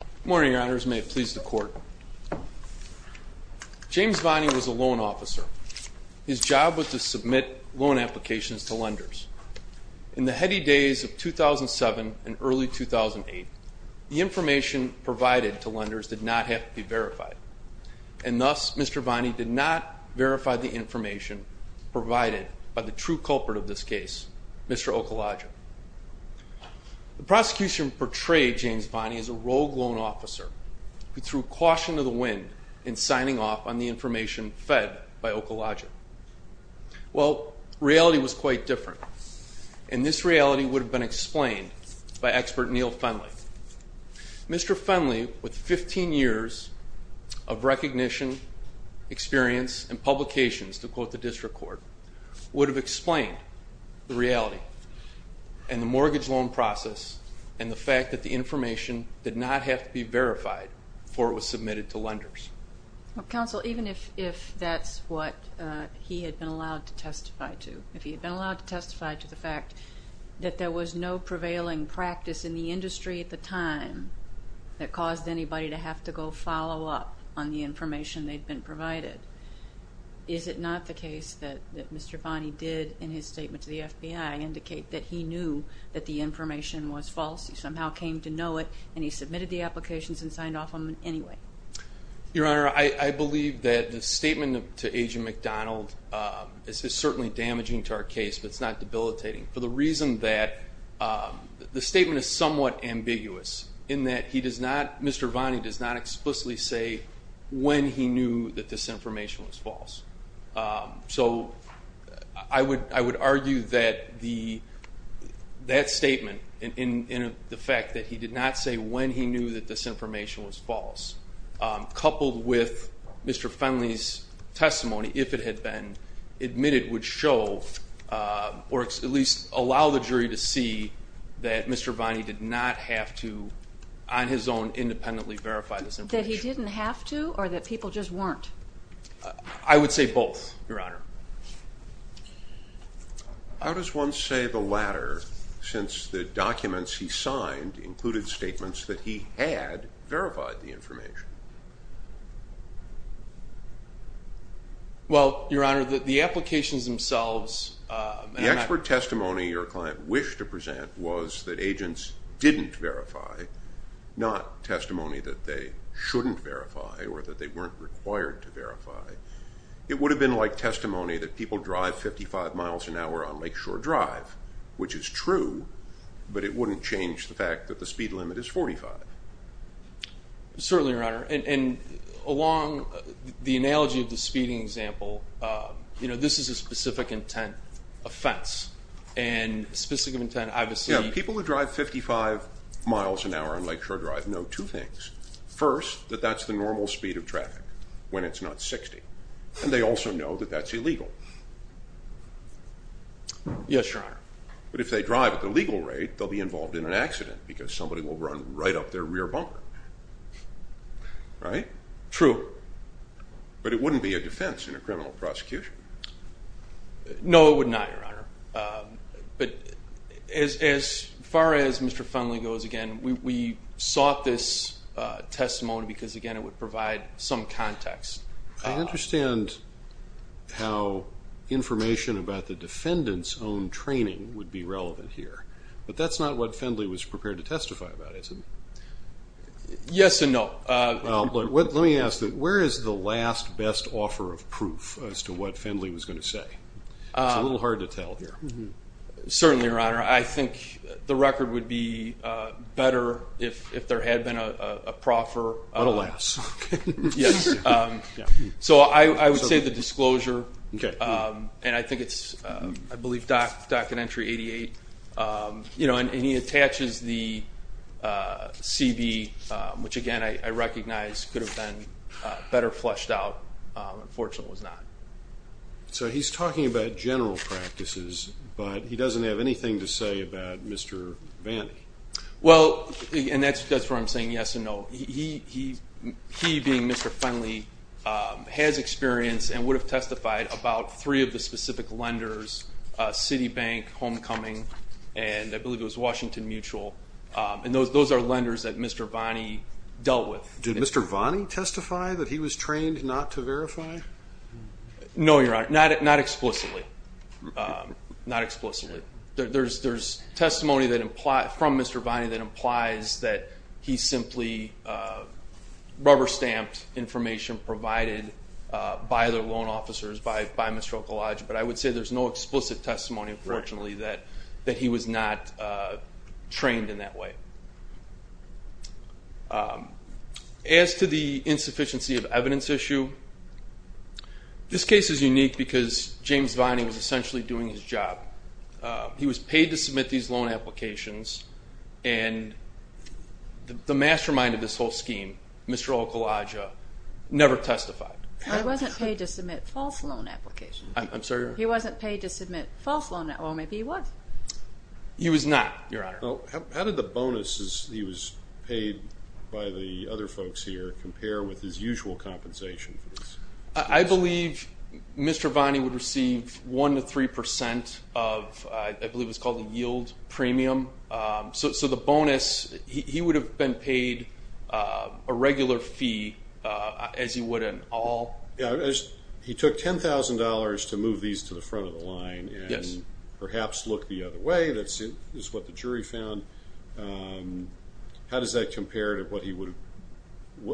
Good morning, your honors. May it please the court. James Vani was a loan officer. His job was to submit loan applications to lenders. In the heady days of 2007 and early 2008, the information provided to lenders did not have to be verified. And thus, Mr. Vani did not verify the information provided by the true culprit of this case, Mr. Okalaja. The prosecution portrayed James Vani as a rogue loan officer who threw caution to the wind in signing off on the information fed by Okalaja. Well, reality was quite different. And this reality would have been explained by expert Neil Fenley. Mr. Fenley, with 15 years of recognition, experience, and publications to quote the district court, would have explained the reality. And the mortgage loan process and the fact that the information did not have to be verified before it was submitted to lenders. Counsel, even if that's what he had been allowed to testify to, if he had been allowed to testify to the fact that there was no prevailing practice in the industry at the time that caused anybody to have to go follow up on the information they'd been provided, is it not the case that Mr. Vani did, in his statement to the FBI, indicate that he knew that the information was false? He somehow came to know it, and he submitted the applications and signed off on them anyway? Your Honor, I believe that the statement to Agent McDonald is certainly damaging to our case, but it's not debilitating. For the reason that the statement is somewhat ambiguous, in that he does not, Mr. Vani does not explicitly say when he knew that this information was false. So I would argue that that statement and the fact that he did not say when he knew that this information was false, coupled with Mr. Fenley's testimony, if it had been admitted, would show, or at least allow the jury to see that Mr. Vani did not have to, on his own, independently verify this information. That he didn't have to, or that people just weren't? I would say both, Your Honor. How does one say the latter, since the documents he signed included statements that he had verified the information? Well, Your Honor, the applications themselves... The expert testimony your client wished to present was that agents didn't verify, not testimony that they shouldn't verify or that they weren't required to verify. It would have been like testimony that people drive 55 miles an hour on Lakeshore Drive, which is true, but it wouldn't change the fact that the speed limit is 45. Certainly, Your Honor, and along the analogy of the speeding example, this is a specific intent offense, and specific intent, obviously... Yeah, people who drive 55 miles an hour on Lakeshore Drive know two things. First, that that's the normal speed of traffic when it's not 60, and they also know that that's illegal. Yes, Your Honor. But if they drive at the legal rate, they'll be involved in an accident because somebody will run right up their rear bumper. Right? True. But it wouldn't be a defense in a criminal prosecution. No, it would not, Your Honor. But as far as Mr. Funley goes, again, we sought this testimony because, again, it would provide some context. I understand how information about the defendant's own training would be relevant here, but that's not what Funley was prepared to testify about, is it? Yes and no. Let me ask, where is the last best offer of proof as to what Funley was going to say? It's a little hard to tell here. Certainly, Your Honor. I think the record would be better if there had been a proffer. But alas. Yes. So I would say the disclosure, and I think it's, I believe, docket entry 88. And he attaches the CB, which, again, I recognize could have been better fleshed out. Unfortunately, it was not. So he's talking about general practices, but he doesn't have anything to say about Mr. Vanni. Well, and that's where I'm saying yes and no. He, being Mr. Funley, has experience and would have testified about three of the specific lenders, Citibank, Homecoming, and I believe it was Washington Mutual. And those are lenders that Mr. Vanni dealt with. Did Mr. Vanni testify that he was trained not to verify? No, Your Honor. Not explicitly. Not explicitly. There's testimony from Mr. Vanni that implies that he simply rubber-stamped information provided by the loan officers, by Mr. Okolodge, but I would say there's no explicit testimony, unfortunately, that he was not trained in that way. As to the insufficiency of evidence issue, this case is unique because James Vanni was essentially doing his job. He was paid to submit these loan applications, and the mastermind of this whole scheme, Mr. Okolodge, never testified. Well, he wasn't paid to submit false loan applications. I'm sorry? He wasn't paid to submit false loan applications. Well, maybe he was. He was not, Your Honor. How did the bonuses he was paid by the other folks here compare with his usual compensation? I believe Mr. Vanni would receive 1% to 3% of, I believe it's called the yield premium. So the bonus, he would have been paid a regular fee, as he would an all. He took $10,000 to move these to the front of the line and perhaps look the other way. That's what the jury found. How does that compare to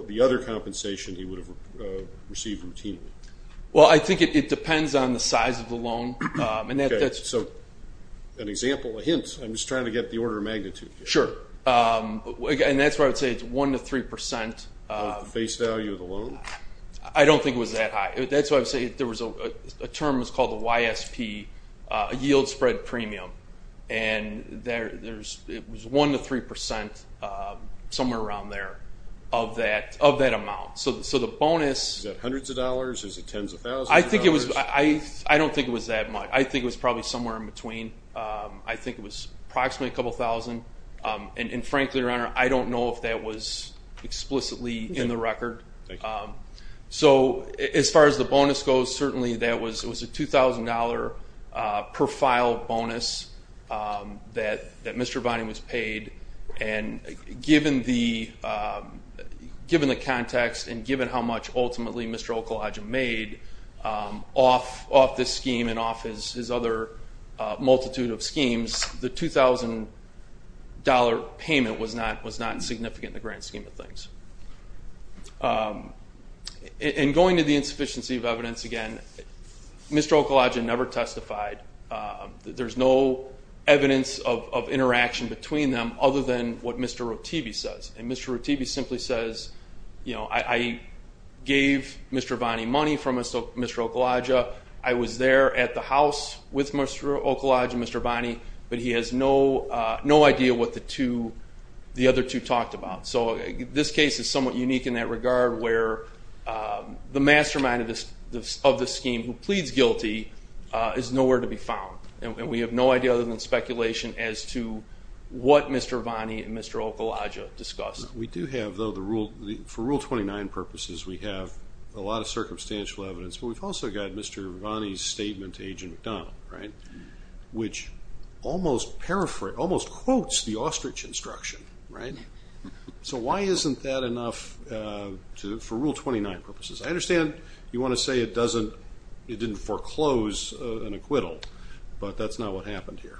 the other compensation he would have received routinely? Well, I think it depends on the size of the loan. Okay. So an example, a hint, I'm just trying to get the order of magnitude. Sure. And that's why I would say it's 1% to 3%. The base value of the loan? I don't think it was that high. That's why I would say a term was called the YSP, a yield spread premium. And it was 1% to 3%, somewhere around there, of that amount. So the bonus. Is that hundreds of dollars? Is it tens of thousands of dollars? I don't think it was that much. I think it was probably somewhere in between. I think it was approximately a couple thousand. And, frankly, Your Honor, I don't know if that was explicitly in the record. Thank you. So as far as the bonus goes, certainly that was a $2,000 per file bonus that Mr. Bonney was paid. And given the context and given how much ultimately Mr. Okolodge made off this scheme and off his other multitude of schemes, the $2,000 payment was not significant in the grand scheme of things. And going to the insufficiency of evidence again, Mr. Okolodge never testified. There's no evidence of interaction between them other than what Mr. Rotivi says. And Mr. Rotivi simply says, you know, I gave Mr. Bonney money from Mr. Okolodge. I was there at the house with Mr. Okolodge and Mr. Bonney, but he has no idea what the other two talked about. So this case is somewhat unique in that regard where the mastermind of this scheme, who pleads guilty, is nowhere to be found. And we have no idea other than speculation as to what Mr. Bonney and Mr. Okolodge discussed. We do have, though, for Rule 29 purposes, we have a lot of circumstantial evidence, but we've also got Mr. Bonney's statement to Agent McDonald, right, which almost quotes the ostrich instruction, right? So why isn't that enough for Rule 29 purposes? I understand you want to say it didn't foreclose an acquittal, but that's not what happened here.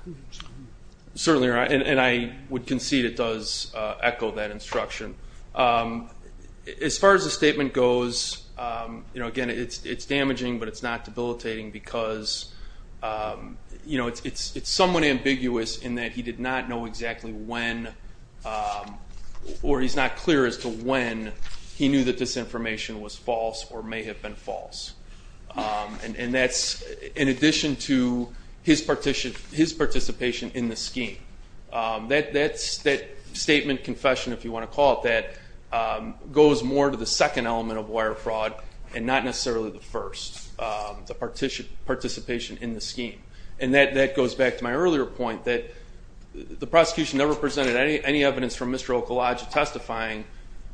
Certainly, and I would concede it does echo that instruction. As far as the statement goes, again, it's damaging, but it's not debilitating because, you know, it's somewhat ambiguous in that he did not know exactly when or he's not clear as to when he knew that this information was false or may have been false. And that's in addition to his participation in the scheme. That statement, confession, if you want to call it that, goes more to the second element of wire fraud and not necessarily the first, the participation in the scheme. And that goes back to my earlier point that the prosecution never presented any evidence from Mr. Okolodge testifying,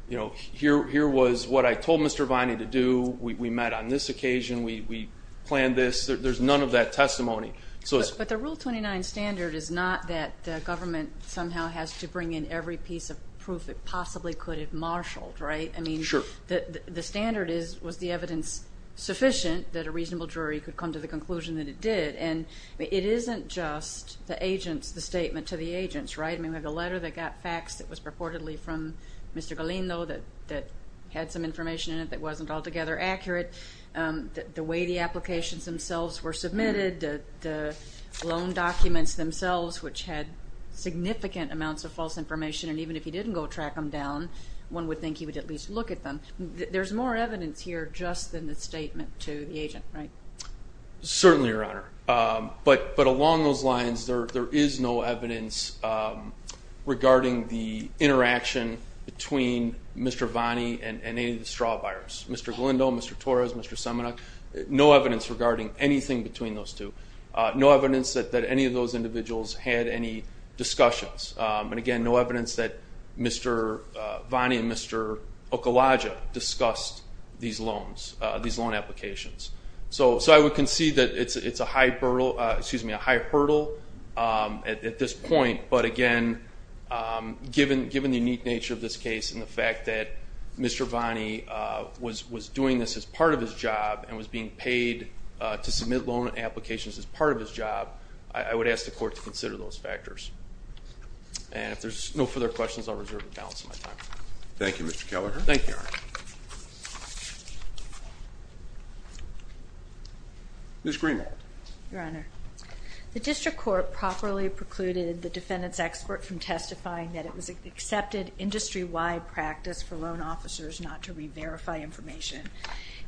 you know, here was what I told Mr. Bonney to do, we met on this occasion, we planned this. There's none of that testimony. But the Rule 29 standard is not that the government somehow has to bring in every piece of proof it possibly could have marshaled, right? Sure. I mean, the standard was the evidence sufficient that a reasonable jury could come to the conclusion that it did. And it isn't just the agents, the statement to the agents, right? I mean, the letter that got faxed that was purportedly from Mr. Galindo that had some information in it that wasn't altogether accurate, the way the applications themselves were submitted, the loan documents themselves, which had significant amounts of false information, and even if he didn't go track them down, one would think he would at least look at them. There's more evidence here just than the statement to the agent, right? Certainly, Your Honor. But along those lines, there is no evidence regarding the interaction between Mr. Bonney and any of the straw buyers. Mr. Galindo, Mr. Torres, Mr. Semenuk, no evidence regarding anything between those two. No evidence that any of those individuals had any discussions. And, again, no evidence that Mr. Bonney and Mr. Okolodja discussed these loan applications. So I would concede that it's a high hurdle at this point, but, again, given the unique nature of this case and the fact that Mr. Bonney was doing this as part of his job and was being paid to submit loan applications as part of his job, I would ask the Court to consider those factors. And if there's no further questions, I'll reserve the balance of my time. Thank you, Mr. Keller. Thank you, Your Honor. Ms. Greenwald. Your Honor, the District Court properly precluded the defendant's expert from testifying that it was an accepted industry-wide practice for loan officers not to re-verify information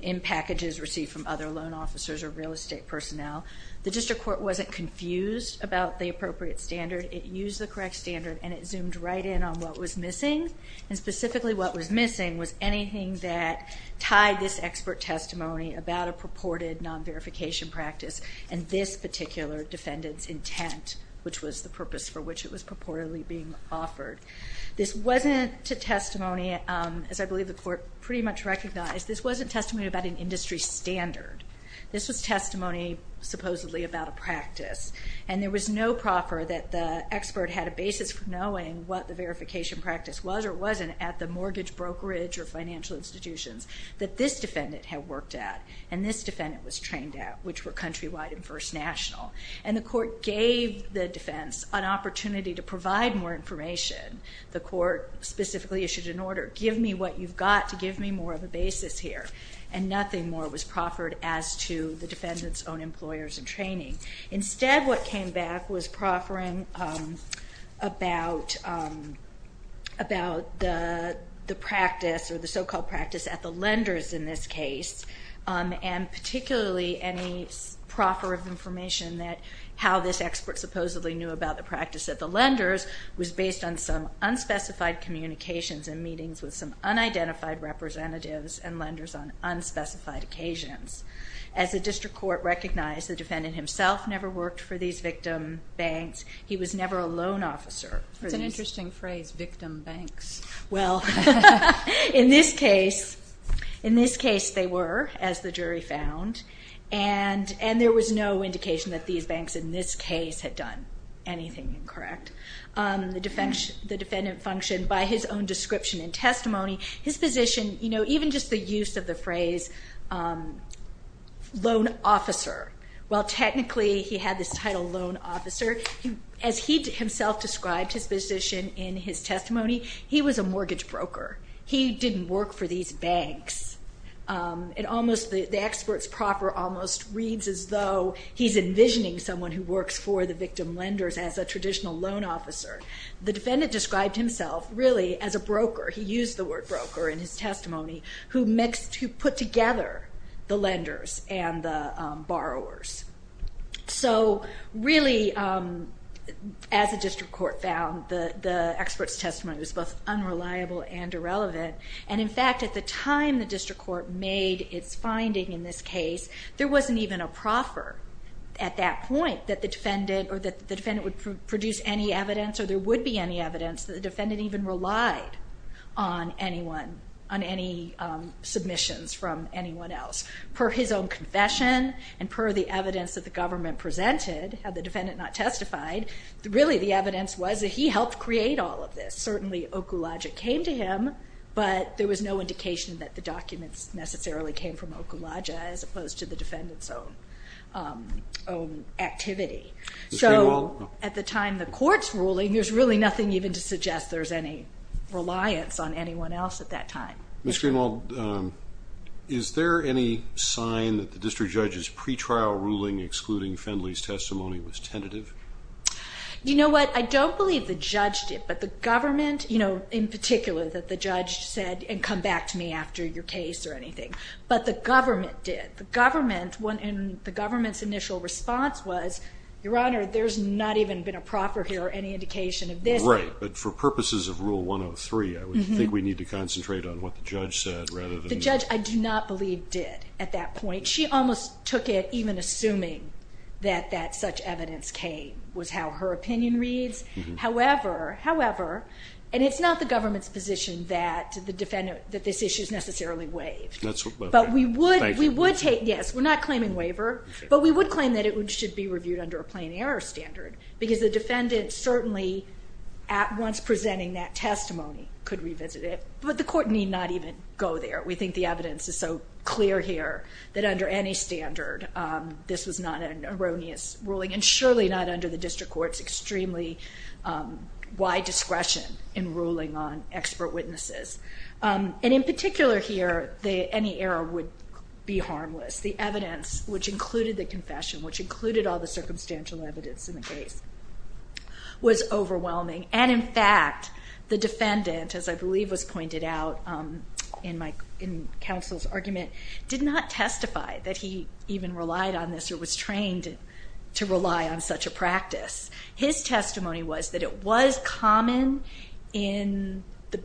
in packages received from other loan officers or real estate personnel. The District Court wasn't confused about the appropriate standard. It used the correct standard, and it zoomed right in on what was missing, and specifically what was missing was anything that tied this expert testimony about a purported non-verification practice and this particular defendant's intent, which was the purpose for which it was purportedly being offered. This wasn't a testimony, as I believe the Court pretty much recognized, this wasn't testimony about an industry standard. This was testimony supposedly about a practice, and there was no proffer that the expert had a basis for knowing what the verification practice was or wasn't at the mortgage, brokerage, or financial institutions that this defendant had worked at and this defendant was trained at, which were countrywide and first national. And the Court gave the defense an opportunity to provide more information. The Court specifically issued an order, give me what you've got to give me more of a basis here, and nothing more was proffered as to the defendant's own employers and training. Instead, what came back was proffering about the practice or the so-called practice at the lenders in this case, and particularly any proffer of information that how this expert supposedly knew about the practice at the lenders was based on some unspecified communications and meetings with some unidentified representatives and lenders on unspecified occasions. As the District Court recognized, the defendant himself never worked for these victim banks. He was never a loan officer. That's an interesting phrase, victim banks. Well, in this case they were, as the jury found, and there was no indication that these banks in this case had done anything incorrect. The defendant functioned by his own description and testimony. His position, even just the use of the phrase loan officer, while technically he had this title loan officer, as he himself described his position in his testimony, he was a mortgage broker. He didn't work for these banks. The expert's proffer almost reads as though he's envisioning someone who works for the victim lenders as a traditional loan officer. The defendant described himself really as a broker. He used the word broker in his testimony, who put together the lenders and the borrowers. So really, as the District Court found, the expert's testimony was both unreliable and irrelevant. In fact, at the time the District Court made its finding in this case, there wasn't even a proffer at that point that the defendant would produce any evidence or there would be any evidence that the defendant even relied on anyone, on any submissions from anyone else. Per his own confession and per the evidence that the government presented, had the defendant not testified, really the evidence was that he helped create all of this. Certainly Okulaja came to him, but there was no indication that the documents necessarily came from Okulaja as opposed to the defendant's own activity. So at the time the court's ruling, there's really nothing even to suggest there's any reliance on anyone else at that time. Ms. Greenwald, is there any sign that the district judge's pretrial ruling excluding Findley's testimony was tentative? You know what? I don't believe the judge did, but the government, in particular, that the judge said, and come back to me after your case or anything, but the government did. The government's initial response was, Your Honor, there's not even been a proffer here or any indication of this. Right, but for purposes of Rule 103, I would think we need to concentrate on what the judge said rather than... The judge, I do not believe, did at that point. She almost took it even assuming that such evidence came was how her opinion reads. However, however, and it's not the government's position that this issue is necessarily waived. But we would take, yes, we're not claiming waiver, but we would claim that it should be reviewed under a plain error standard because the defendant certainly, at once presenting that testimony, could revisit it. But the court need not even go there. We think the evidence is so clear here that under any standard, this was not an erroneous ruling and surely not under the district court's extremely wide discretion in ruling on expert witnesses. And in particular here, any error would be harmless. The evidence, which included the confession, which included all the circumstantial evidence in the case, was overwhelming. And in fact, the defendant, as I believe was pointed out in counsel's argument, did not testify that he even relied on this or was trained to rely on such a practice. His testimony was that it was common in the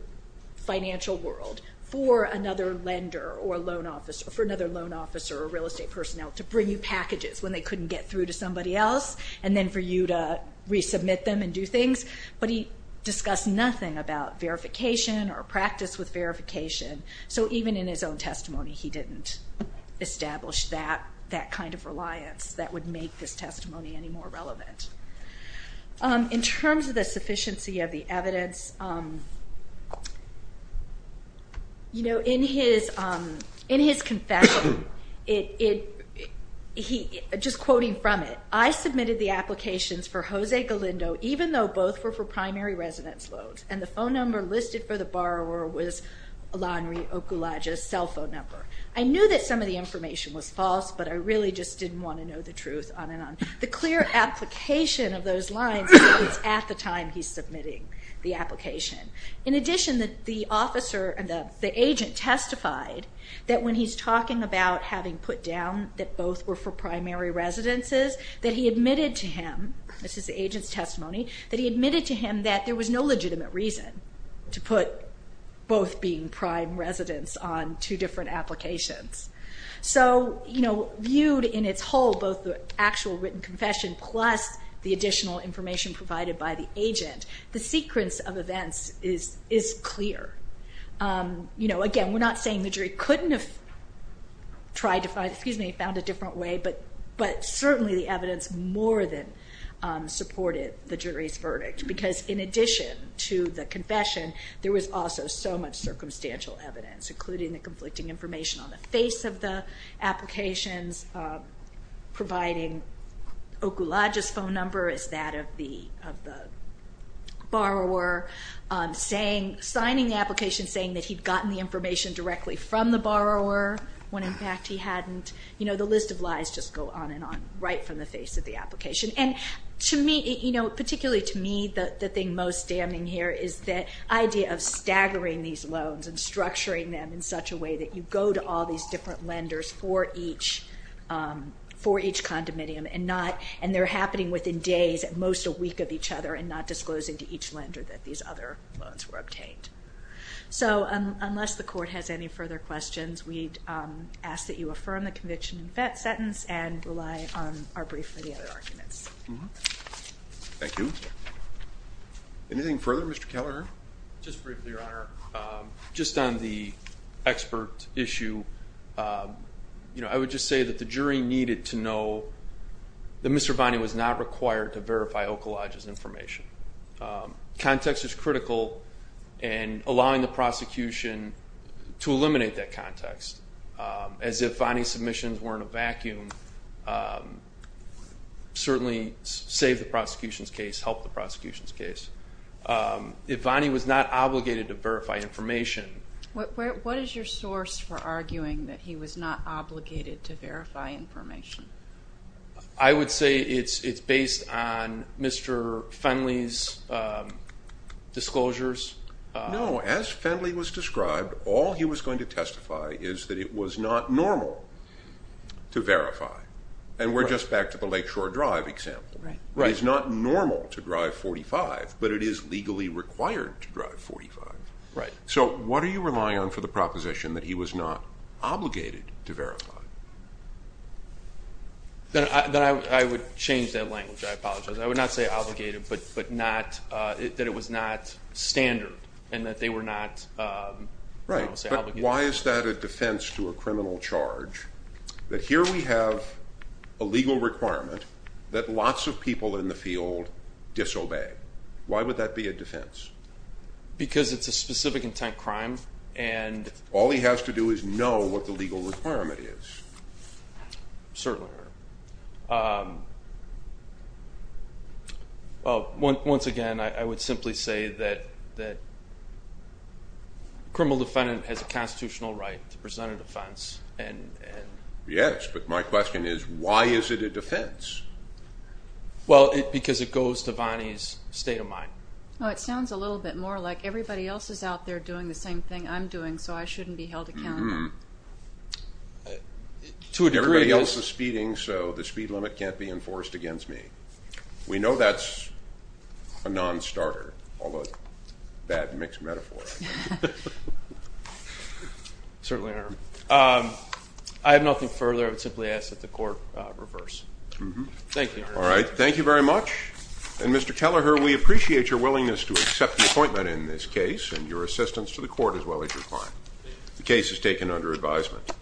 financial world for another lender or loan officer, for another loan officer or real estate personnel to bring you packages when they couldn't get through to somebody else and then for you to resubmit them and do things. But he discussed nothing about verification or practice with verification. So even in his own testimony, he didn't establish that kind of reliance that would make this testimony any more relevant. In terms of the sufficiency of the evidence, in his confession, just quoting from it, I submitted the applications for Jose Galindo even though both were for primary residence loans and the phone number listed for the borrower was Alonre Okulaja's cell phone number. I knew that some of the information was false, but I really just didn't want to know the truth on and on. The clear application of those lines is at the time he's submitting the application. In addition, the agent testified that when he's talking about having put down that both were for primary residences, that he admitted to him, this is the agent's testimony, that he admitted to him that there was no legitimate reason to put both being prime residents on two different applications. So viewed in its whole, both the actual written confession plus the additional information provided by the agent, the sequence of events is clear. Again, we're not saying the jury couldn't have tried to find, excuse me, found a different way, but certainly the evidence more than supported the jury's verdict because in addition to the confession, there was also so much circumstantial evidence, including the conflicting information on the face of the applications, providing Okulaja's phone number as that of the borrower, signing the application saying that he'd gotten the information directly from the borrower when in fact he hadn't. The list of lies just go on and on right from the face of the application. And to me, particularly to me, the thing most damning here is the idea of staggering these loans and structuring them in such a way that you go to all these different lenders for each condominium and they're happening within days, at most a week of each other, and not disclosing to each lender that these other loans were obtained. So unless the court has any further questions, we'd ask that you affirm the conviction in that sentence and rely on our brief for the other arguments. Thank you. Anything further, Mr. Keller? Just briefly, Your Honor. Just on the expert issue, I would just say that the jury needed to know that Mr. Vanni was not required to verify Okulaja's information. Context is critical in allowing the prosecution to eliminate that context. As if Vanni's submissions were in a vacuum, certainly save the prosecution's case, help the prosecution's case. If Vanni was not obligated to verify information... What is your source for arguing that he was not obligated to verify information? I would say it's based on Mr. Fenley's disclosures. No, as Fenley was described, all he was going to testify is that it was not normal to verify. And we're just back to the Lakeshore Drive example. It is not normal to drive 45, but it is legally required to drive 45. So what are you relying on for the proposition that he was not obligated to verify? Then I would change that language. I apologize. I would not say obligated, but not that it was not standard and that they were not... Right, but why is that a defense to a criminal charge that here we have a legal requirement that lots of people in the field disobey? Why would that be a defense? Because it's a specific intent crime and... All he has to do is know what the legal requirement is. Certainly, Your Honor. Once again, I would simply say that a criminal defendant has a constitutional right to present a defense and... Yes, but my question is, why is it a defense? Well, because it goes to Vonnie's state of mind. It sounds a little bit more like everybody else is out there doing the same thing I'm doing, so I shouldn't be held accountable. Everybody else is speeding, so the speed limit can't be enforced against me. We know that's a non-starter, although that mixed metaphor. Certainly, Your Honor. I have nothing further. I would simply ask that the court reverse. Thank you, Your Honor. All right, thank you very much. And, Mr. Kelleher, we appreciate your willingness to accept the appointment in this case and your assistance to the court as well as your client. The case is taken under advisement.